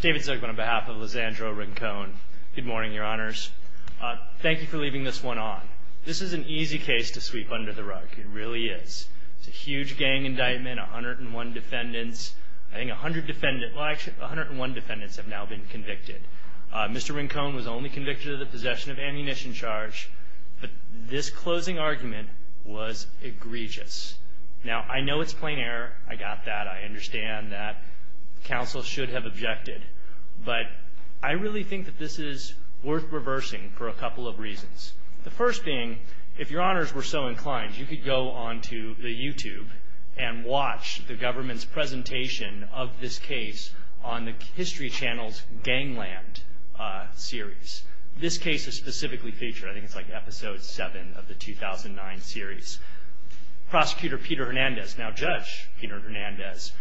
David Zirkle on behalf of Lizandro Rincon. Good morning, your honors. Thank you for leaving this one on. This is an easy case to sweep under the rug. It really is. It's a huge gang indictment, 101 defendants. I think 100 defendants, well actually 101 defendants have now been convicted. Mr. Rincon was only convicted of the possession of ammunition charge, but this closing argument was egregious. Now, I know it's plain error. I got that. I understand that counsel should have objected, but I really think that this is worth reversing for a couple of reasons. The first being, if your honors were so inclined, you could go onto the YouTube and watch the government's presentation of this case on the History Channel's Gangland series. This case is specifically featured. I think it's like episode 7 of the 2009 series. Prosecutor Peter Hernandez, now Judge Peter Hernandez,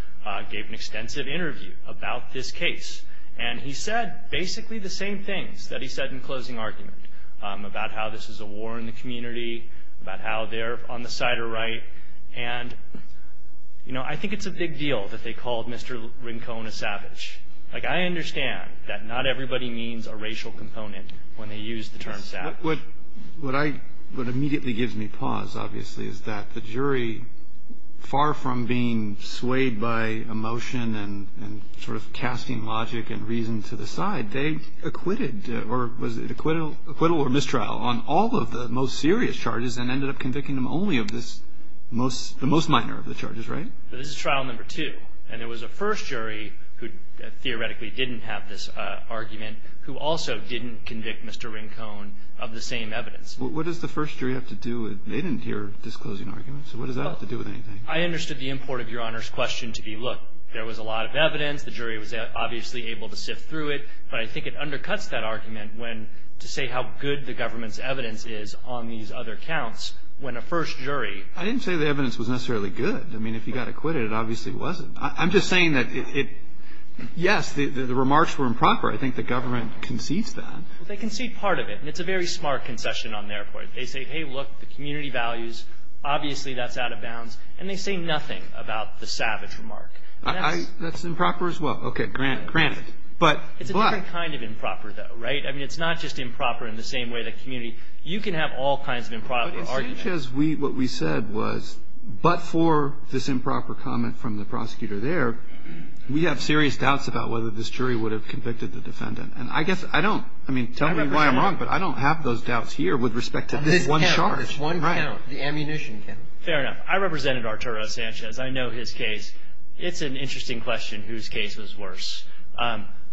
gave an extensive interview about this case, and he said basically the same things that he said in closing argument about how this is a war in the community, about how they're on the side are right, and I think it's a big deal that they called Mr. Rincon a savage. I understand that not everybody means a racial component when they use the term savage. What immediately gives me pause, obviously, is that the jury, far from being swayed by emotion and sort of casting logic and reason to the side, they acquitted, or was it acquittal or mistrial, on all of the most serious charges and ended up convicting them only of the most minor of the charges, right? This is trial number two, and there was a first jury who theoretically didn't have this argument who also didn't convict Mr. Rincon of the same evidence. What does the first jury have to do with it? They didn't hear this closing argument. So what does that have to do with anything? I understood the import of Your Honor's question to be, look, there was a lot of evidence. The jury was obviously able to sift through it, but I think it undercuts that argument when to say how good the government's evidence is on these other counts when a first jury. I didn't say the evidence was necessarily good. I mean, if you got acquitted, it obviously wasn't. I'm just saying that it – yes, the remarks were improper. I think the government concedes that. Well, they concede part of it, and it's a very smart concession on their part. They say, hey, look, the community values, obviously that's out of bounds, and they say nothing about the savage remark. That's improper as well. Okay, granted. It's a different kind of improper, though, right? I mean, it's not just improper in the same way the community – you can have all kinds of improper arguments. Arturo Sanchez, what we said was, but for this improper comment from the prosecutor there, we have serious doubts about whether this jury would have convicted the defendant. And I guess I don't – I mean, tell me why I'm wrong, but I don't have those doubts here with respect to this one charge. This count, this one count, the ammunition count. Fair enough. I represented Arturo Sanchez. I know his case. It's an interesting question whose case was worse.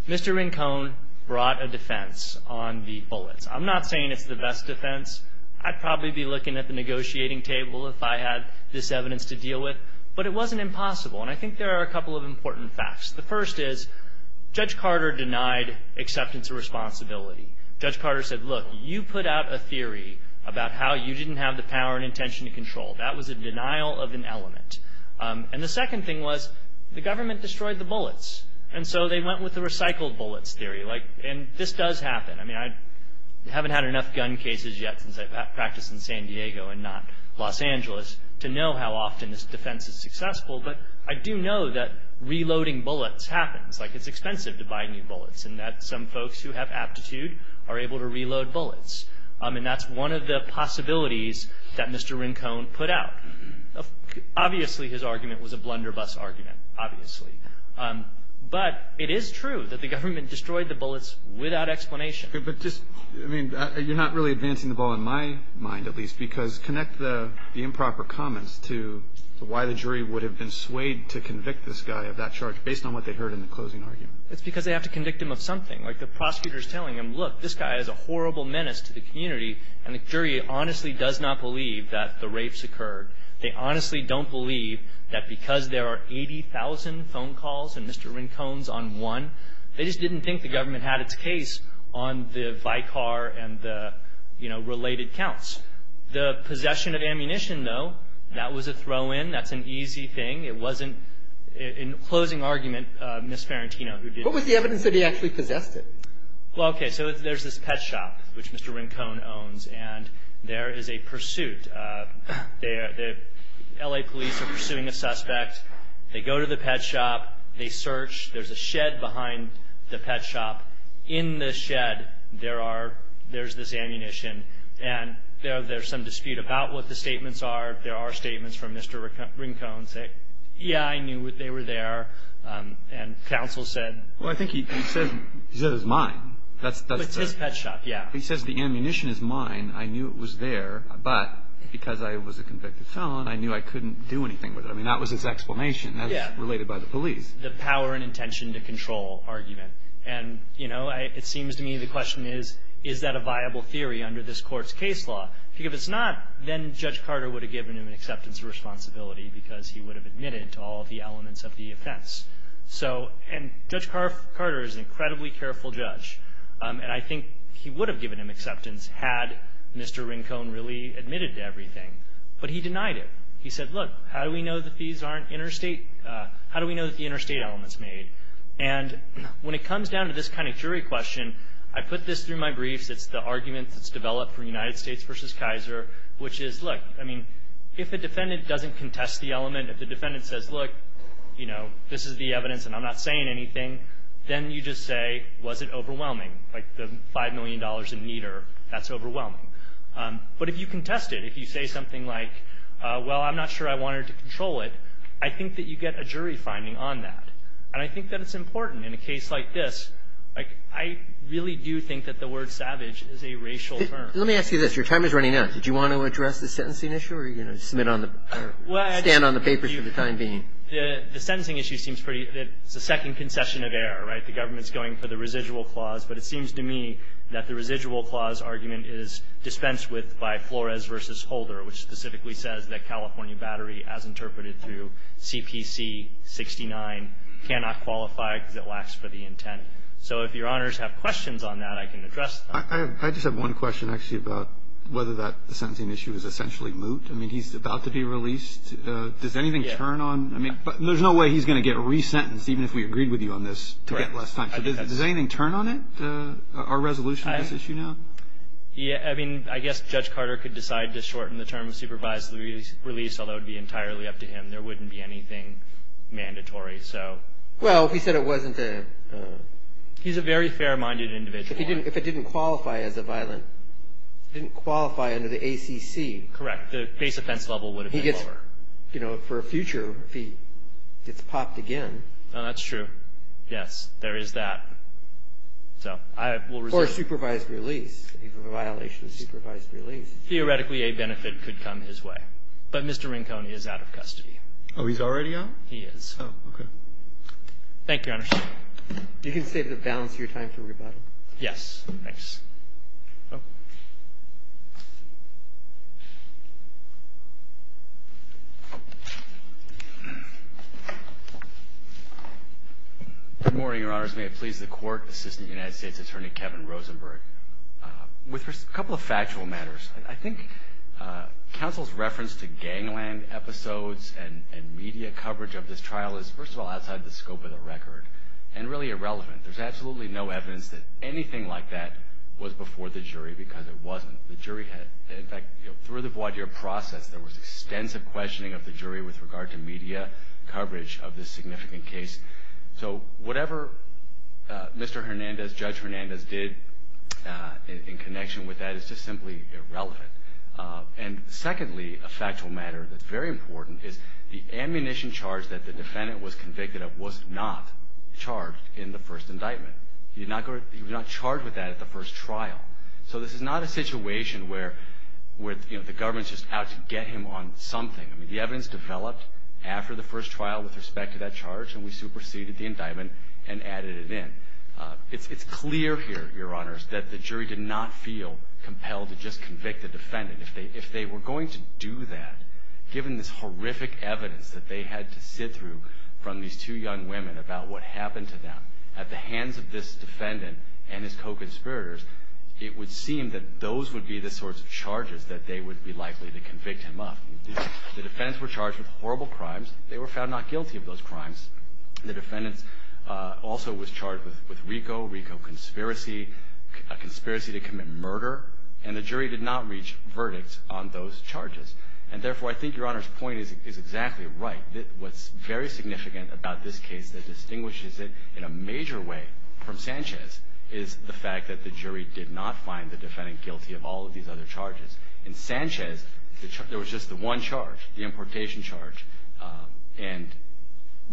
Mr. Rincon brought a defense on the bullets. I'm not saying it's the best defense. I'd probably be looking at the negotiating table if I had this evidence to deal with. But it wasn't impossible, and I think there are a couple of important facts. The first is Judge Carter denied acceptance of responsibility. Judge Carter said, look, you put out a theory about how you didn't have the power and intention to control. That was a denial of an element. And the second thing was the government destroyed the bullets, and so they went with the recycled bullets theory. And this does happen. I mean, I haven't had enough gun cases yet since I practiced in San Diego and not Los Angeles to know how often this defense is successful. But I do know that reloading bullets happens. Like, it's expensive to buy new bullets, and that some folks who have aptitude are able to reload bullets. And that's one of the possibilities that Mr. Rincon put out. Obviously, his argument was a blunderbuss argument, obviously. But it is true that the government destroyed the bullets without explanation. But just, I mean, you're not really advancing the ball in my mind, at least, because connect the improper comments to why the jury would have been swayed to convict this guy of that charge based on what they heard in the closing argument. It's because they have to convict him of something. Like, the prosecutor is telling him, look, this guy is a horrible menace to the community, and the jury honestly does not believe that the rapes occurred. They honestly don't believe that because there are 80,000 phone calls and Mr. Rincon's on one, they just didn't think the government had its case on the Vicar and the, you know, related counts. The possession of ammunition, though, that was a throw-in. That's an easy thing. It wasn't, in closing argument, Ms. Farentino who did it. What was the evidence that he actually possessed it? Well, okay, so there's this pet shop, which Mr. Rincon owns, and there is a pursuit. The L.A. police are pursuing a suspect. They go to the pet shop. They search. There's a shed behind the pet shop. In the shed, there's this ammunition, and there's some dispute about what the statements are. There are statements from Mr. Rincon saying, yeah, I knew they were there, and counsel said. Well, I think he said it was mine. It's his pet shop, yeah. He says the ammunition is mine. I mean, I knew it was there, but because I was a convicted felon, I knew I couldn't do anything with it. I mean, that was his explanation. That was related by the police. The power and intention to control argument, and, you know, it seems to me the question is, is that a viable theory under this court's case law? If it's not, then Judge Carter would have given him an acceptance of responsibility because he would have admitted to all of the elements of the offense. So, and Judge Carter is an incredibly careful judge, and I think he would have given him acceptance had Mr. Rincon really admitted to everything. But he denied it. He said, look, how do we know that these aren't interstate? How do we know that the interstate element's made? And when it comes down to this kind of jury question, I put this through my briefs. It's the argument that's developed for United States v. Kaiser, which is, look, I mean, if a defendant doesn't contest the element, if the defendant says, look, you know, this is the evidence and I'm not saying anything, then you just say, was it overwhelming? Like the $5 million in meter, that's overwhelming. But if you contest it, if you say something like, well, I'm not sure I wanted to control it, I think that you get a jury finding on that. And I think that it's important in a case like this. Like, I really do think that the word savage is a racial term. Let me ask you this. Your time is running out. Did you want to address the sentencing issue or are you going to submit on the or stand on the papers for the time being? The sentencing issue seems pretty – it's the second concession of error, right? The government's going for the residual clause, but it seems to me that the residual clause argument is dispensed with by Flores v. Holder, which specifically says that California Battery, as interpreted through CPC 69, cannot qualify because it lacks for the intent. So if Your Honors have questions on that, I can address them. I just have one question, actually, about whether that sentencing issue is essentially I mean, he's about to be released. Does anything turn on – I mean, there's no way he's going to get resentenced, even if we agreed with you on this, to get less time. Does anything turn on it, our resolution on this issue now? Yeah, I mean, I guess Judge Carter could decide to shorten the term of supervised release, although it would be entirely up to him. There wouldn't be anything mandatory, so. Well, if he said it wasn't a – He's a very fair-minded individual. If it didn't qualify as a violent – if it didn't qualify under the ACC. Correct. The base offense level would have been lower. He gets – you know, for a future, if he gets popped again. Oh, that's true. Yes. There is that. So I will reserve – Or a supervised release, a violation of supervised release. Theoretically, a benefit could come his way. But Mr. Rinconi is out of custody. Oh, he's already out? He is. Oh, okay. Thank you, Your Honors. You can save the balance of your time for rebuttal. Yes. Thanks. Oh. Good morning, Your Honors. May it please the Court, Assistant United States Attorney Kevin Rosenberg. With a couple of factual matters, I think counsel's reference to gangland episodes and media coverage of this trial is, first of all, outside the scope of the record and really irrelevant. There's absolutely no evidence that anything like that was before the jury because it wasn't. The jury had – in fact, through the voir dire process, there was extensive questioning of the jury with regard to media coverage of this significant case. So whatever Mr. Hernandez, Judge Hernandez, did in connection with that is just simply irrelevant. And secondly, a factual matter that's very important is the ammunition charge that the defendant was convicted of was not charged in the first indictment. He was not charged with that at the first trial. So this is not a situation where the government's just out to get him on something. I mean, the evidence developed after the first trial with respect to that charge, and we superseded the indictment and added it in. It's clear here, Your Honors, that the jury did not feel compelled to just convict the defendant. If they were going to do that, given this horrific evidence that they had to sit through from these two young women about what happened to them at the hands of this defendant and his co-conspirators, it would seem that those would be the sorts of charges that they would be likely to convict him of. The defendants were charged with horrible crimes. They were found not guilty of those crimes. The defendant also was charged with RICO, RICO conspiracy, a conspiracy to commit murder, and the jury did not reach verdicts on those charges. And therefore, I think Your Honor's point is exactly right. What's very significant about this case that distinguishes it in a major way from Sanchez is the fact that the jury did not find the defendant guilty of all of these other charges. In Sanchez, there was just the one charge, the importation charge, and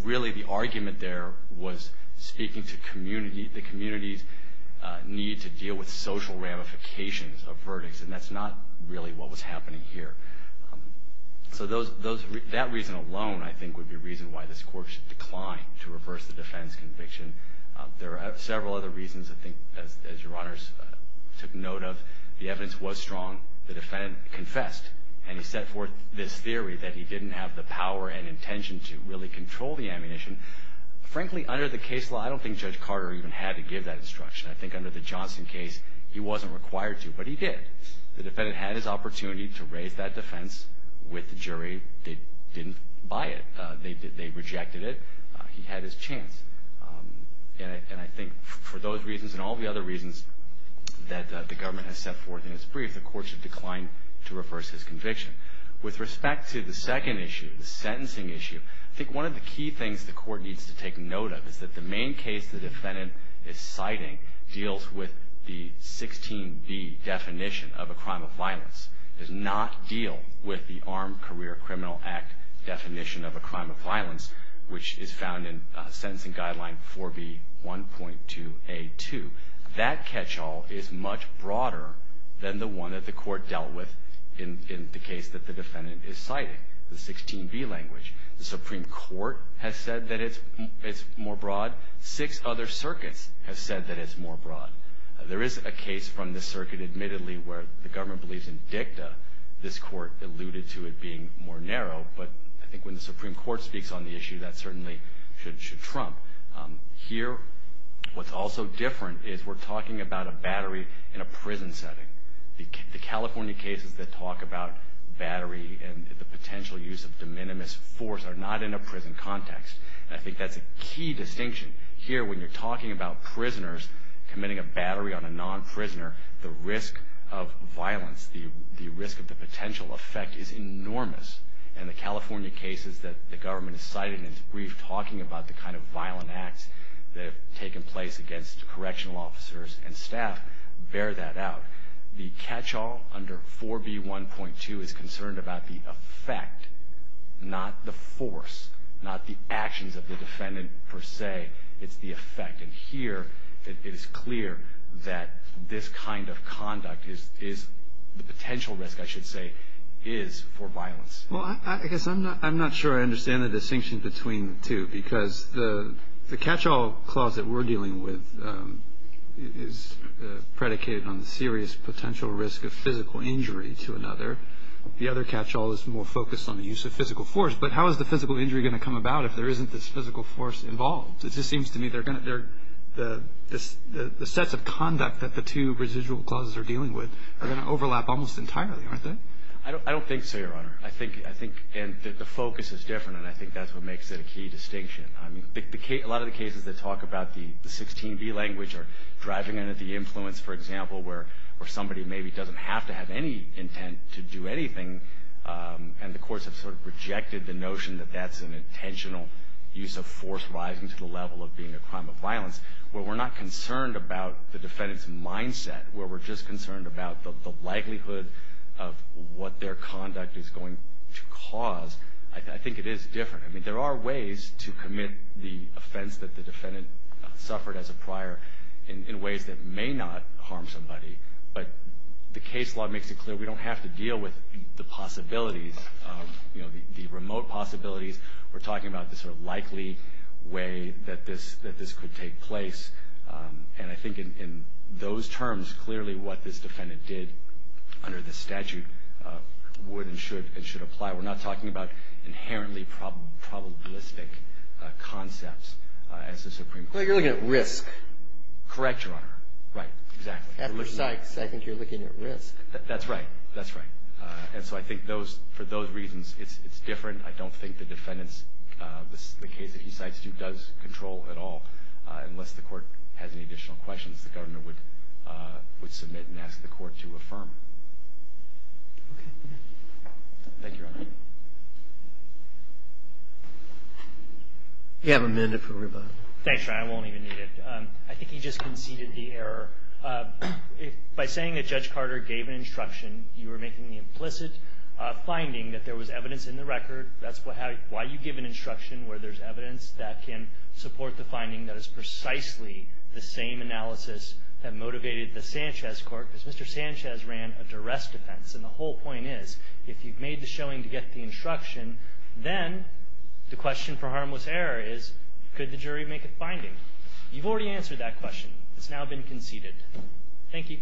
really the argument there was speaking to community, the community's need to deal with social ramifications of verdicts, and that's not really what was happening here. So that reason alone, I think, would be reason why this court should decline to reverse the defendant's conviction. There are several other reasons, I think, as Your Honor took note of. The evidence was strong. The defendant confessed, and he set forth this theory that he didn't have the power and intention to really control the ammunition. And frankly, under the case law, I don't think Judge Carter even had to give that instruction. I think under the Johnson case, he wasn't required to, but he did. The defendant had his opportunity to raise that defense with the jury. They didn't buy it. They rejected it. He had his chance. And I think for those reasons and all the other reasons that the government has set forth in its brief, the court should decline to reverse his conviction. With respect to the second issue, the sentencing issue, I think one of the key things the court needs to take note of is that the main case the defendant is citing deals with the 16B definition of a crime of violence, does not deal with the Armed Career Criminal Act definition of a crime of violence, which is found in Sentencing Guideline 4B1.2A2. That catch-all is much broader than the one that the court dealt with in the case that the defendant is citing, the 16B language. The Supreme Court has said that it's more broad. Six other circuits have said that it's more broad. There is a case from the circuit, admittedly, where the government believes in dicta. This court alluded to it being more narrow, but I think when the Supreme Court speaks on the issue, that certainly should trump. Here, what's also different is we're talking about a battery in a prison setting. The California cases that talk about battery and the potential use of de minimis force are not in a prison context, and I think that's a key distinction. Here, when you're talking about prisoners committing a battery on a non-prisoner, the risk of violence, the risk of the potential effect is enormous, and the California cases that the government has cited in its brief, talking about the kind of violent acts that have taken place against correctional officers and staff, bear that out. The catch-all under 4B1.2 is concerned about the effect, not the force, not the actions of the defendant per se. It's the effect. And here, it is clear that this kind of conduct is the potential risk, I should say, is for violence. Well, I guess I'm not sure I understand the distinction between the two, is predicated on the serious potential risk of physical injury to another. The other catch-all is more focused on the use of physical force, but how is the physical injury going to come about if there isn't this physical force involved? It just seems to me the sets of conduct that the two residual clauses are dealing with are going to overlap almost entirely, aren't they? I don't think so, Your Honor. I think the focus is different, and I think that's what makes it a key distinction. A lot of the cases that talk about the 16B language are driving into the influence, for example, where somebody maybe doesn't have to have any intent to do anything, and the courts have sort of rejected the notion that that's an intentional use of force rising to the level of being a crime of violence. Where we're not concerned about the defendant's mindset, where we're just concerned about the likelihood of what their conduct is going to cause, I think it is different. I mean, there are ways to commit the offense that the defendant suffered as a prior in ways that may not harm somebody, but the case law makes it clear we don't have to deal with the possibilities, the remote possibilities. We're talking about the sort of likely way that this could take place, and I think in those terms, clearly what this defendant did under this statute would and should apply. We're not talking about inherently probabilistic concepts as the Supreme Court. Well, you're looking at risk. Correct, Your Honor. Right. Exactly. After Sykes, I think you're looking at risk. That's right. That's right. And so I think for those reasons, it's different. I don't think the defendant's, the case that he cites, does control at all. Unless the Court has any additional questions, the Governor would submit and ask the Court to affirm. Okay. Thank you, Your Honor. You have a minute for rebuttal. Thanks, Your Honor. I won't even need it. I think you just conceded the error. By saying that Judge Carter gave an instruction, you were making the implicit finding that there was evidence in the record. That's why you give an instruction where there's evidence that can support the finding that is precisely the same analysis that motivated the Sanchez Court, because Mr. Sanchez ran a duress defense. And the whole point is, if you've made the showing to get the instruction, then the question for harmless error is, could the jury make a finding? You've already answered that question. It's now been conceded. Thank you.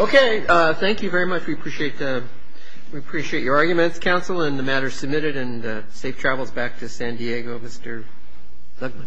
Okay. Thank you very much. We appreciate your arguments, counsel, and the matter is submitted. And safe travels back to San Diego, Mr. Legman.